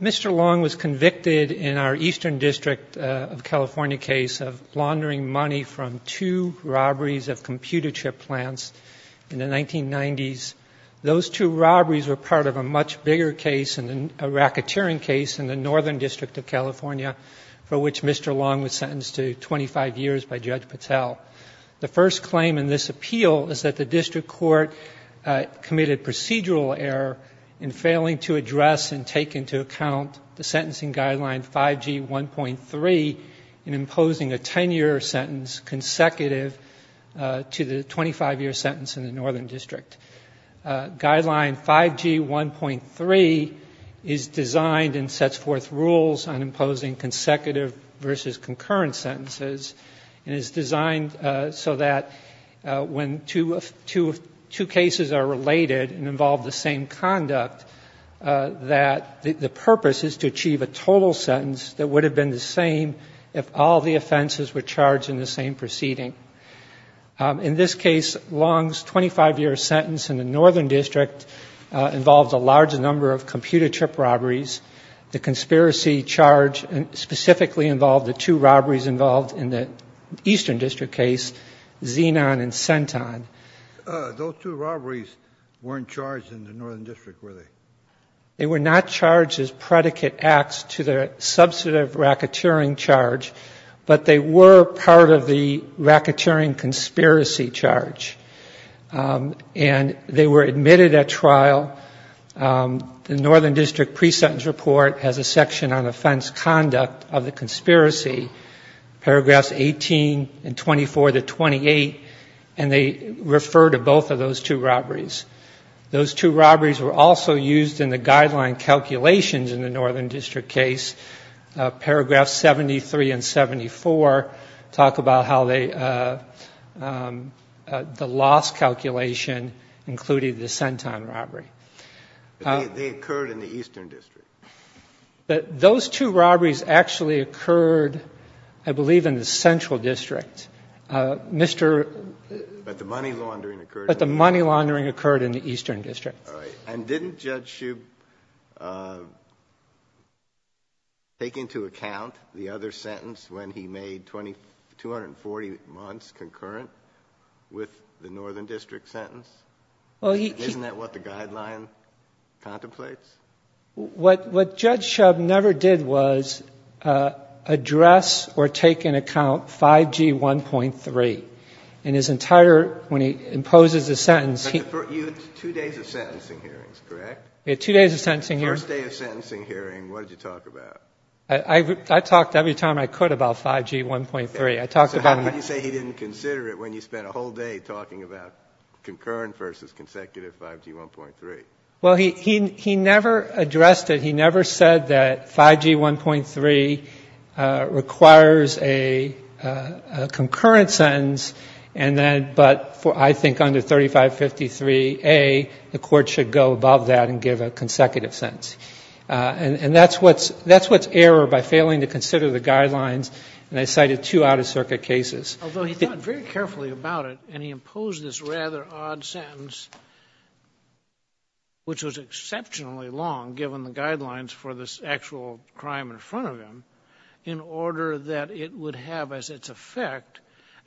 Mr. Luong was convicted in our Eastern District of California case of laundering money from two robberies of computer chip plants in the 1990s. Those two robberies were part of a much bigger case, a racketeering case in the Northern District of California for which Mr. Luong was sentenced to 25 years by Judge Patel. The first claim in this appeal is that the District Court committed procedural error in failing to address and take into account the sentencing guideline 5G 1.3 in imposing a 10-year sentence consecutive to the 25-year sentence in the Northern District. Guideline 5G 1.3 is designed and sets forth rules on imposing consecutive versus concurrent sentences and is designed so that when two cases are related and involve the same conduct, that the purpose is to achieve a total sentence that would have been the same if all the offenses were charged in the same proceeding. In this case, Luong's 25-year sentence in the Northern District involved a large number of computer chip robberies. The conspiracy charge specifically involved the two robberies involved in the Eastern District case, Xenon and Centon. Those two robberies weren't charged in the Northern District, were they? They were not charged as predicate acts to the substantive racketeering charge, but they were part of the racketeering conspiracy charge. And they were admitted at trial. The Northern District pre-sentence report has a section on offense conduct of the conspiracy, paragraphs 18 and 24 to 28, and they refer to both of those two robberies. Those two robberies were also used in the guideline calculations in the Northern District case, paragraphs 73 and 74 talk about how the loss calculation included the Centon robbery. They occurred in the Eastern District? Those two robberies actually occurred, I believe, in the Central District. But the money laundering occurred in the Eastern District? But the money laundering occurred in the Eastern District. And didn't Judge Shub take into account the other sentence when he made 240 months concurrent with the Northern District sentence? Isn't that what the guideline contemplates? What Judge Shub never did was address or take into account 5G 1.3. And his entire, when he said he didn't consider it when you spent a whole day talking about concurrent versus consecutive 5G 1.3? Well, he never addressed it. He never said that 5G 1.3 requires a concurrent sentence, but I think under 3553A, the court should go above that and give a consecutive sentence. And that's what's error by failing to consider the guidelines, and I cited two Out-of-Circuit cases. Although he thought very carefully about it, and he imposed this rather odd sentence, which was exceptionally long, given the guidelines for this actual crime in front of him, in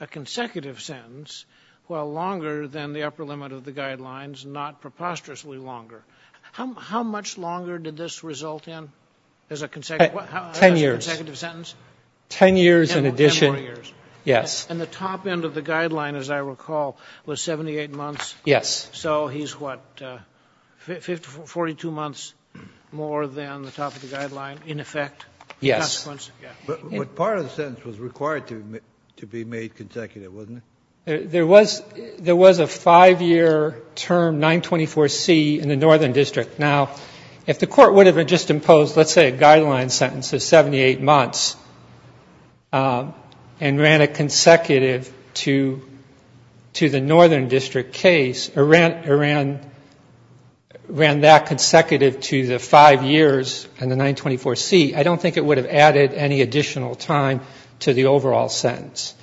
a consecutive sentence, while longer than the upper limit of the guidelines, not preposterously longer. How much longer did this result in as a consecutive sentence? Ten years. Ten years in addition? Ten more years. Yes. And the top end of the guideline, as I recall, was 78 months? Yes. So he's, what, 42 months more than the top of the guideline in effect? Yes. But part of the sentence was required to be made consecutive, wasn't it? There was a five-year term, 924C, in the Northern District. Now, if the court would have just imposed, let's say, a guideline sentence of 78 months and ran it consecutive to the Northern District case, or ran that consecutive to the five years and the 924C, I don't think it would have added any additional time to the overall sentence.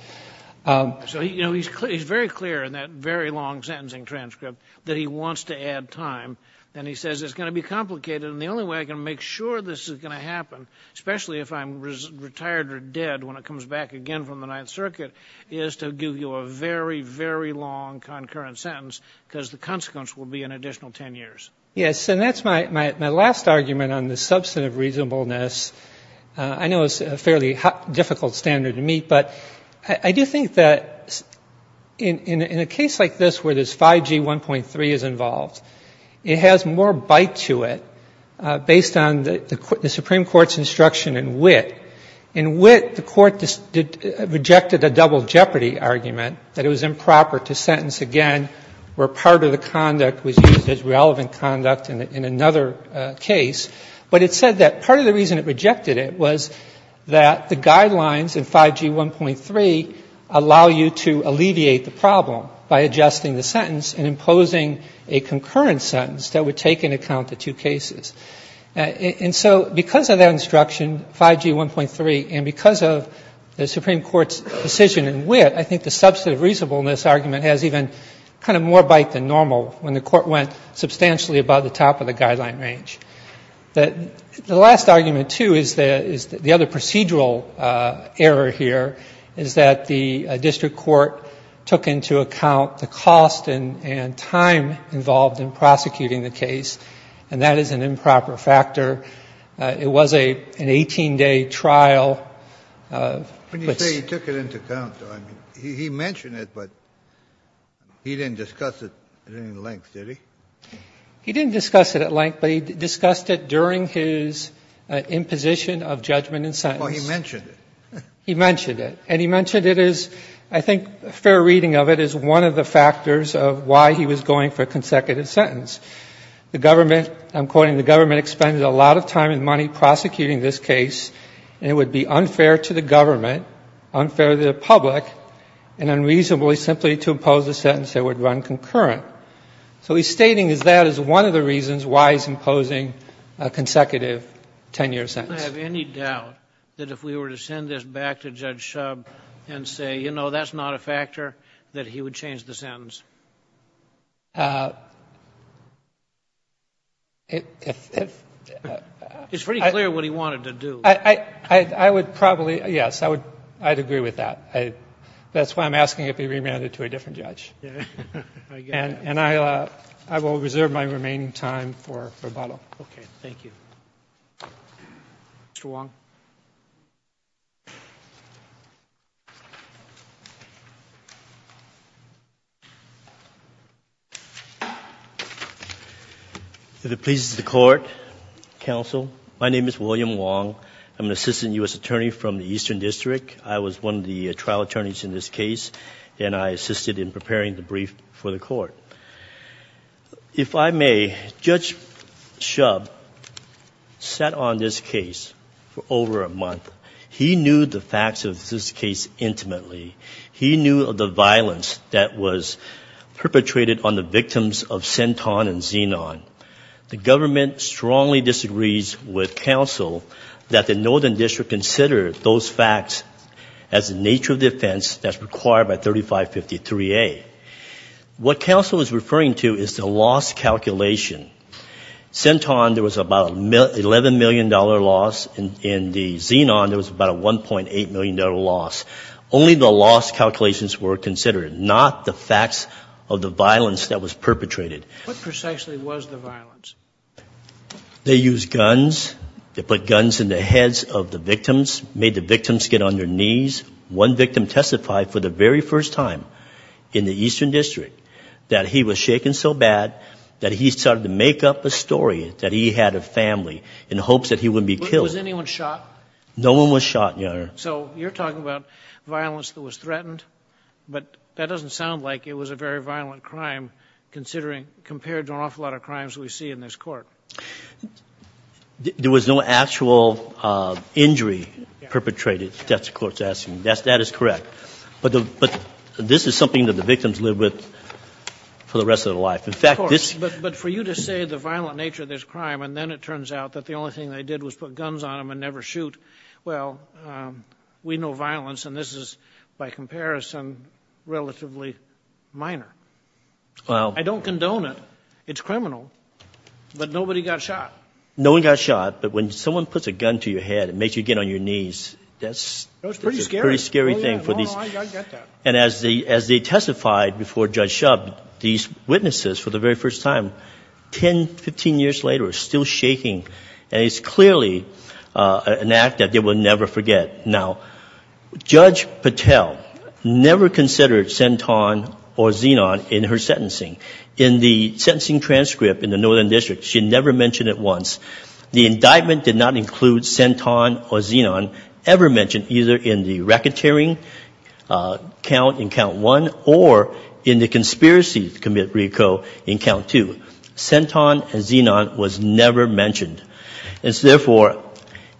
So, you know, he's very clear in that very long sentencing transcript that he wants to add time, and he says, it's going to be complicated, and the only way I can make sure this is going to happen, especially if I'm retired or dead when it comes back again from the Ninth Circuit, is to give you a very, very long concurrent sentence, because the consequence will be an additional ten years. Yes, and that's my last argument on the substantive reasonableness. I know it's a fairly difficult standard to meet, but I do think that in a case like this where there's 5G 1.3 is involved, it has more bite to it based on the Supreme Court's instruction in wit. In wit, the court rejected the double jeopardy argument that it was improper to sentence again where part of the conduct was used as relevant conduct in another case. But it said that part of the reason it rejected it was that the guidelines in 5G 1.3 allow you to alleviate the problem by adjusting the sentence and imposing a concurrent sentence that would take into account the two cases. And so because of that instruction, 5G 1.3, and because of the Supreme Court's decision in wit, I think the substantive reasonableness argument has even kind of more bite than normal when the court went substantially above the top of the guideline range. The last argument, too, is the other procedural error here is that the district court took into account the cost and time involved in prosecuting the case, and that is an improper factor. It was an 18-day trial. Kennedy. When you say he took it into account, though, I mean, he mentioned it, but he didn't discuss it at any length, did he? He didn't discuss it at length, but he discussed it during his imposition of judgment and sentence. Oh, he mentioned it. He mentioned it. And he mentioned it as, I think a fair reading of it, as one of the factors of why he was going for a consecutive sentence. The government, I'm quoting, the government expended a lot of time and money prosecuting this case, and it would be unfair to the government, unfair to the public, and unreasonable simply to impose a sentence that would run concurrent. So he's stating that as one of the reasons why he's imposing a consecutive 10-year sentence. Do I have any doubt that if we were to send this back to Judge Shubb and say, you know, that's not a factor, that he would change the sentence? It's pretty clear what he wanted to do. I would probably, yes, I would agree with that. That's why I'm asking it be remanded to a different judge. And I will reserve my remaining time for rebuttal. Okay. Thank you. Mr. Wong. If it pleases the court, counsel, my name is William Wong. I'm an assistant U.S. attorney from the Eastern District. I was one of the trial attorneys in this case, and I assisted in preparing the brief for the court. If I may, Judge Shubb sat on this case for over a month. He knew the facts of this case intimately. He knew of the violence that was perpetrated on the victims of Senton and Zenon. The government strongly disagrees with counsel that the Northern District consider those facts as the nature of the offense that's required by 3553A. What counsel is referring to is the loss calculation. Senton, there was about an $11 million loss. In the Zenon, there was about a $1.8 million loss. Only the loss calculations were considered, not the facts of the violence that was perpetrated. What precisely was the violence? They used guns. They put guns in the heads of the victims, made the victims get on their knees. One victim testified for the very first time in the Eastern District that he was shaken so bad that he started to make up a story that he had a family in hopes that he wouldn't be killed. Was anyone shot? No one was shot, Your Honor. So you're talking about violence that was threatened, but that doesn't sound like it was a very violent crime compared to an awful lot of crimes we see in this court. There was no actual injury perpetrated. That's the court's asking. That is correct. But this is something that the victims lived with for the rest of their life. Of course. But for you to say the violent nature of this crime and then it turns out that the only thing they did was put guns on them and never shoot, well, we know violence and this is, by comparison, relatively minor. I don't condone it. It's criminal. But nobody got shot. No one got shot, but when someone puts a gun to your head and makes you get on your knees, that's a pretty scary thing. I get that. And as they testified before Judge Shub, these witnesses, for the very first time, 10, 15 years later, are still shaking. And it's clearly an act that they will never forget. Now, Judge Patel never considered senton or xenon in her sentencing. In the sentencing transcript in the Northern District, she never mentioned it once. The indictment did not include senton or xenon ever mentioned either in the racketeering count in count one or in the conspiracy to commit recall in count two. Senton and xenon was never mentioned. And so, therefore,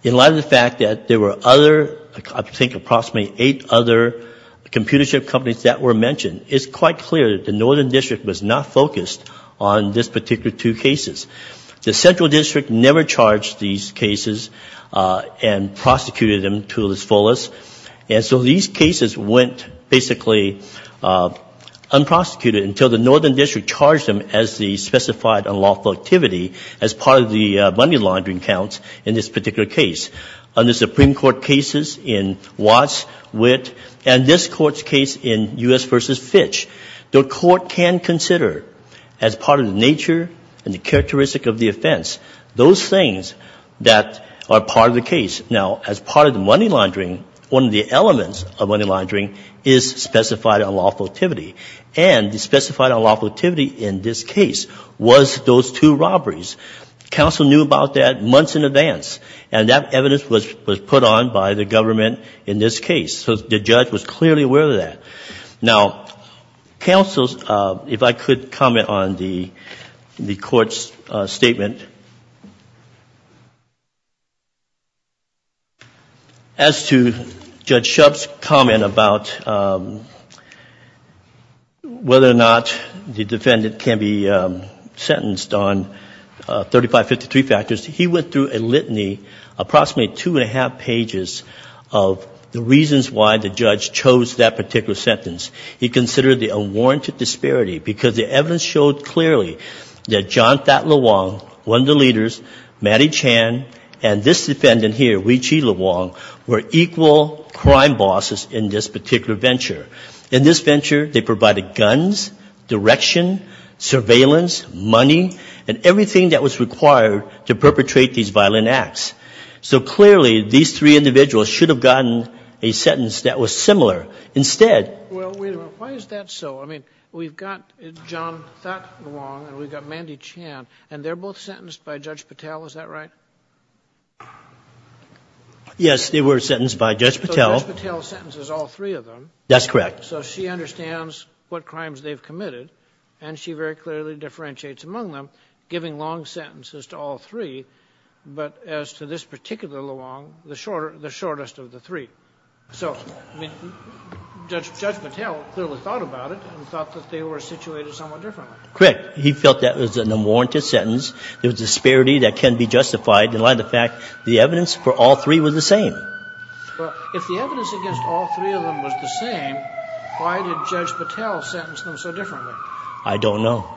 in light of the fact that there were other, I think approximately eight other computer chip companies that were mentioned, it's quite clear that the Northern District was not focused on this particular two cases. The Central District never charged these cases and prosecuted them to its fullest. And so these cases went basically unprosecuted until the Northern District charged them as the specified unlawful activity as part of the money laundering counts in this particular case. On the Supreme Court cases in Watts, Witt, and this Court's case in U.S. v. Fitch, the Court can consider as part of the nature and the characteristic of the offense those things that are part of the case. Now, as part of the money laundering, one of the elements of money laundering is specified unlawful activity. And the specified unlawful activity in this case was those two robberies. Counsel knew about that months in advance. And that evidence was put on by the government in this case. So the judge was clearly aware of that. Now, counsel, if I could comment on the Court's statement. As to Judge Shub's comment about whether or not the defendant can be sentenced on 3553 factors, he went through a litany, approximately two and a half pages, of the reasons why the judge chose that particular sentence. He considered the unwarranted disparity because the evidence showed clearly that John Thad LeWong, one of the leaders, Matty Chan, and this defendant here, Wee Chi LeWong, were equal crime bosses in this particular venture. In this venture, they provided guns, direction, surveillance, money, and everything that was required to perpetrate these violent acts. So clearly, these three individuals should have gotten a sentence that was similar. Instead. Well, wait a minute. Why is that so? I mean, we've got John Thad LeWong and we've got Matty Chan, and they're both sentenced by Judge Patel. Is that right? Yes, they were sentenced by Judge Patel. So Judge Patel sentences all three of them. That's correct. So she understands what crimes they've committed, and she very clearly differentiates among them, giving long sentences to all three, but as to this particular LeWong, the shortest of the three. So, I mean, Judge Patel clearly thought about it and thought that they were situated somewhat differently. Correct. He felt that was an unwarranted sentence. There was disparity that can be justified in light of the fact the evidence for all three was the same. Well, if the evidence against all three of them was the same, why did Judge Patel sentence them so differently? I don't know.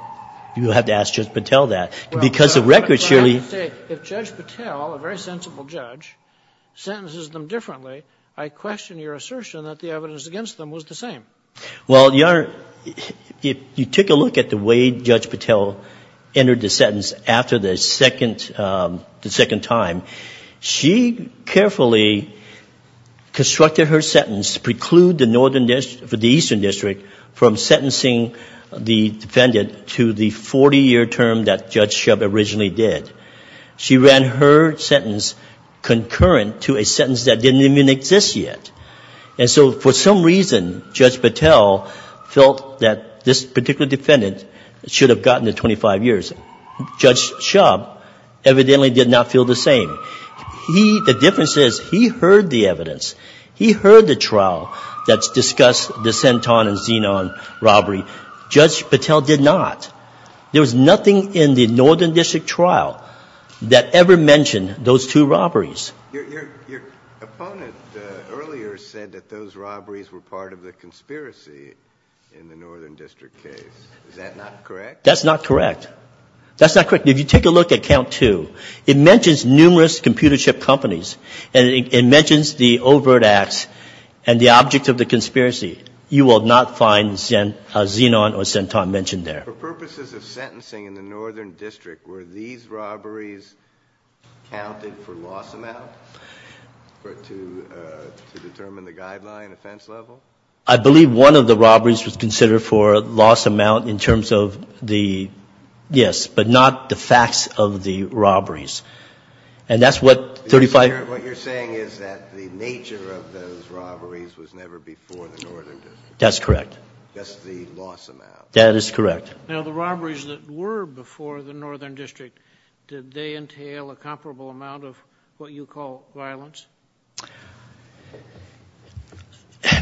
You'll have to ask Judge Patel that. Because the record surely... I have to say, if Judge Patel, a very sensible judge, sentences them differently, I question your assertion that the evidence against them was the same. Well, Your Honor, you take a look at the way Judge Patel entered the sentence after the second time. She carefully constructed her sentence to preclude the Eastern District from sentencing the defendant to the 40-year term that Judge Shubb originally did. She ran her sentence concurrent to a sentence that didn't even exist yet. And so, for some reason, Judge Patel felt that this particular defendant should have gotten the 25 years. Judge Shubb evidently did not feel the same. He, the difference is, he heard the evidence. He heard the trial that discussed the Centon and Zenon robbery. Judge Patel did not. There was nothing in the Northern District trial that ever mentioned those two robberies. Your opponent earlier said that those robberies were part of the conspiracy in the Northern District case. Is that not correct? That's not correct. That's not correct. If you take a look at count two, it mentions numerous computer chip companies. And it mentions the overt acts and the object of the conspiracy. You will not find Zenon or Centon mentioned there. For purposes of sentencing in the Northern District, were these robberies counted for loss amount to determine the guideline and offense level? I believe one of the robberies was considered for loss amount in terms of the, yes, but not the facts of the robberies. And that's what 35- What you're saying is that the nature of those robberies was never before the Northern District. That's correct. Just the loss amount. That is correct. Now, the robberies that were before the Northern District, did they entail a comparable amount of what you call violence?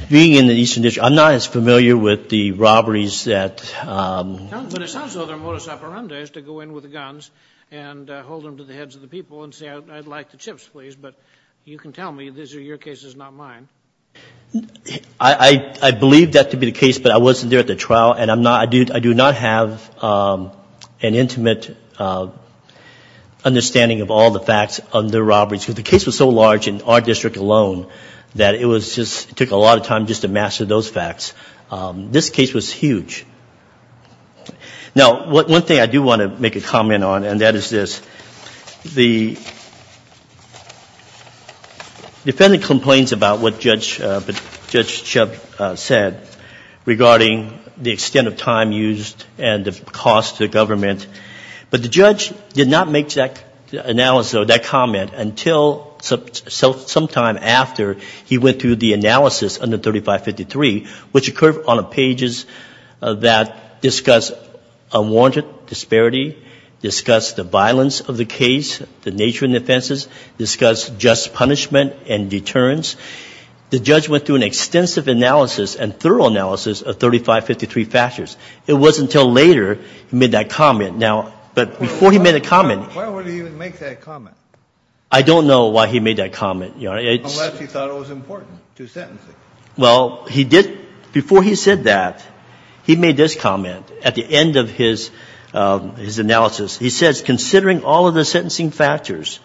Being in the Eastern District, I'm not as familiar with the robberies that- But it sounds like their modus operandi is to go in with the guns and hold them to the heads of the people and say, I'd like the chips, please, but you can tell me these are your cases, not mine. I believe that to be the case, but I wasn't there at the trial and I do not have an intimate understanding of all the facts of the robberies. The case was so large in our district alone that it took a lot of time just to master those facts. This case was huge. Now, one thing I do want to make a comment on, and that is this. The defendant complains about what Judge Chubb said regarding the extent of time used and the cost to the government. But the judge did not make that analysis or that comment until sometime after he went through the analysis under 3553, which occurred on pages that discussed unwarranted disparity, discussed the violence of the case, the nature of the offenses, discussed just punishment and deterrence. The judge went through an extensive analysis and thorough analysis of 3553 factors. It wasn't until later he made that comment. Now, but before he made that comment. Why would he even make that comment? I don't know why he made that comment. Unless he thought it was important to sentence him. Well, he did. Before he said that, he made this comment at the end of his analysis. He says, considering all of the sentencing factors,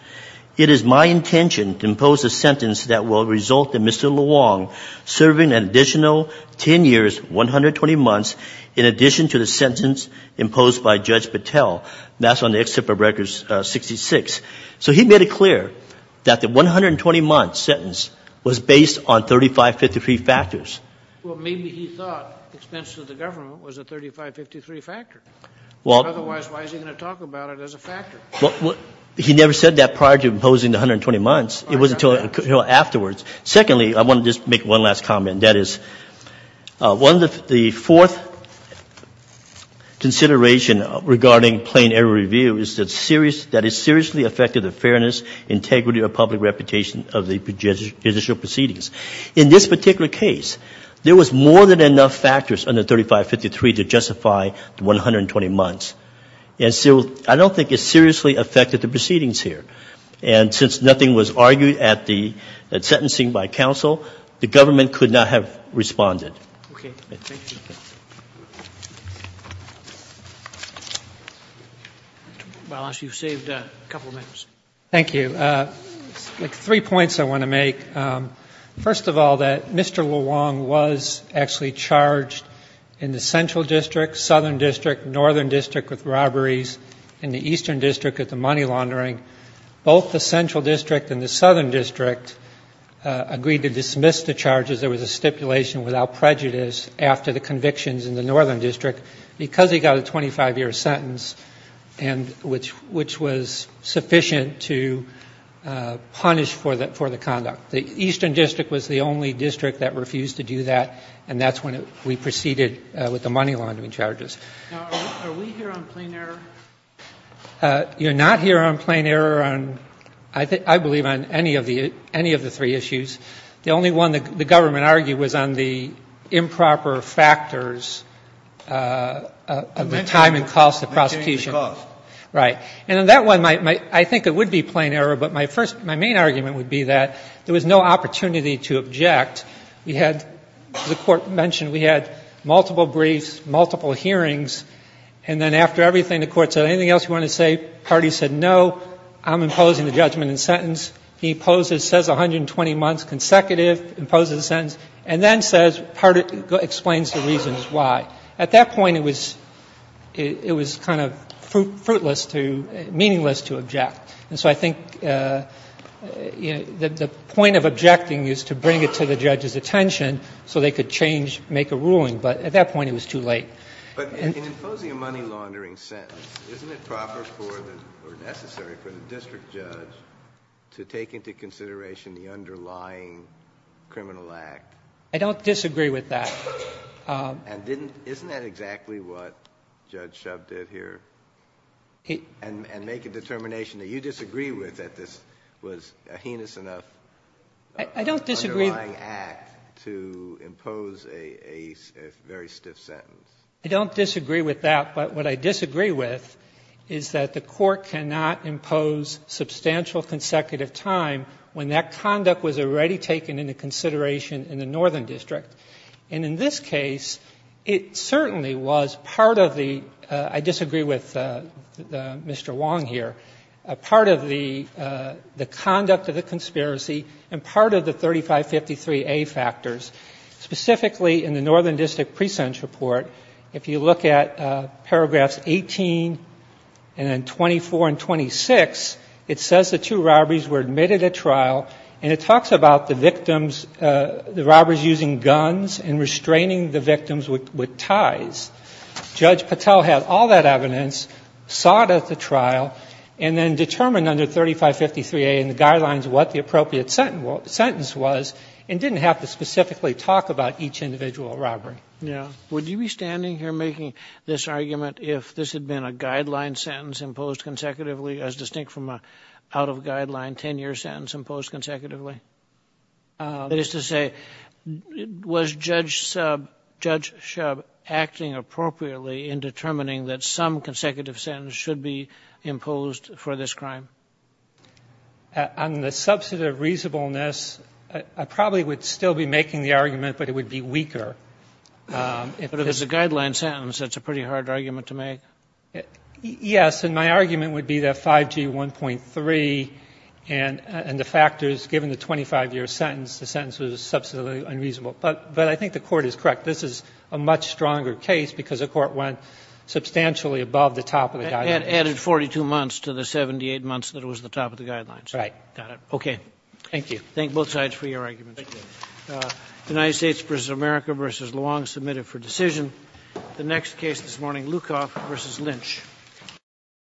it is my intention to impose a sentence that will result in Mr. LeWong serving an additional 10 years, 120 months, in addition to the sentence imposed by Judge Patel. That's on the Excerpt of Records 66. So he made it clear that the 120-month sentence was based on 3553 factors. Well, maybe he thought expense to the government was a 3553 factor. He never said that prior to imposing the 120 months. It was until afterwards. Secondly, I want to just make one last comment. That is, the fourth consideration regarding plain error review is that it seriously affected the fairness, integrity, or public reputation of the judicial proceedings. In this particular case, there was more than enough factors under 3553 to justify the 120 months. And so I don't think it seriously affected the proceedings here. And since nothing was argued at the sentencing by counsel, the government could not have responded. Okay. Thank you. You've saved a couple of minutes. Thank you. Three points I want to make. First of all, that Mr. LeWong was actually charged in the central district, southern district, northern district with robberies, and the eastern district with the money laundering. Both the central district and the southern district agreed to dismiss the charges. There was a stipulation without prejudice after the convictions in the northern district because he got a 25-year sentence, which was sufficient to punish for the conduct. The eastern district was the only district that refused to do that, and that's when we proceeded with the money laundering charges. Now, are we here on plain error? You're not here on plain error on, I believe, on any of the three issues. The only one the government argued was on the improper factors of the time and cost of prosecution. Maintaining the cost. Right. And on that one, I think it would be plain error, but my main argument would be that there was no opportunity to object. We had, the court mentioned, we had multiple briefs, multiple hearings, and then after everything, the court said, anything else you want to say? Party said, no, I'm imposing the judgment and sentence. He poses, says 120 months consecutive, imposes the sentence, and then says, explains the reasons why. At that point, it was kind of fruitless to, meaningless to object. And so I think the point of objecting is to bring it to the judge's attention so they could change, make a ruling. But at that point, it was too late. But in imposing a money laundering sentence, isn't it proper for the, or necessary for the district judge to take into consideration the underlying criminal act? I don't disagree with that. And isn't that exactly what Judge Shub did here? And make a determination that you disagree with, that this was a heinous enough underlying act to impose a very stiff sentence. I don't disagree with that, but what I disagree with is that the court cannot impose substantial consecutive time when that conduct was already taken into consideration in the Northern District. And in this case, it certainly was part of the, I disagree with Mr. Wong here, part of the conduct of the conspiracy and part of the 3553A factors. Specifically, in the Northern District Pre-Sentence Report, if you look at paragraphs 18 and then 24 and 26, it says the two robberies were admitted at trial, and it talks about the victims, the robbers using guns and restraining the victims with ties. Judge Patel had all that evidence, sought at the trial, and then determined under 3553A in the guidelines what the appropriate sentence was and didn't have to specifically talk about each individual robbery. Yeah. Would you be standing here making this argument if this had been a guideline sentence imposed consecutively as distinct from an out-of-guideline 10-year sentence imposed consecutively? That is to say, was Judge Shub acting appropriately in determining that some consecutive sentence should be imposed for this crime? On the substantive reasonableness, I probably would still be making the argument, but it would be weaker. But if it's a guideline sentence, that's a pretty hard argument to make. Yes. And my argument would be that 5G 1.3 and the factors, given the 25-year sentence, the sentence was substantively unreasonable. But I think the Court is correct. This is a much stronger case because the Court went substantially above the top of the guidelines. It added 42 months to the 78 months that it was the top of the guidelines. Right. Got it. Okay. Thank you. Thank both sides for your arguments. Thank you. United States v. America v. Luong, submitted for decision. The next case this morning, Lukoff v. Lynch. Thank you. Thank you.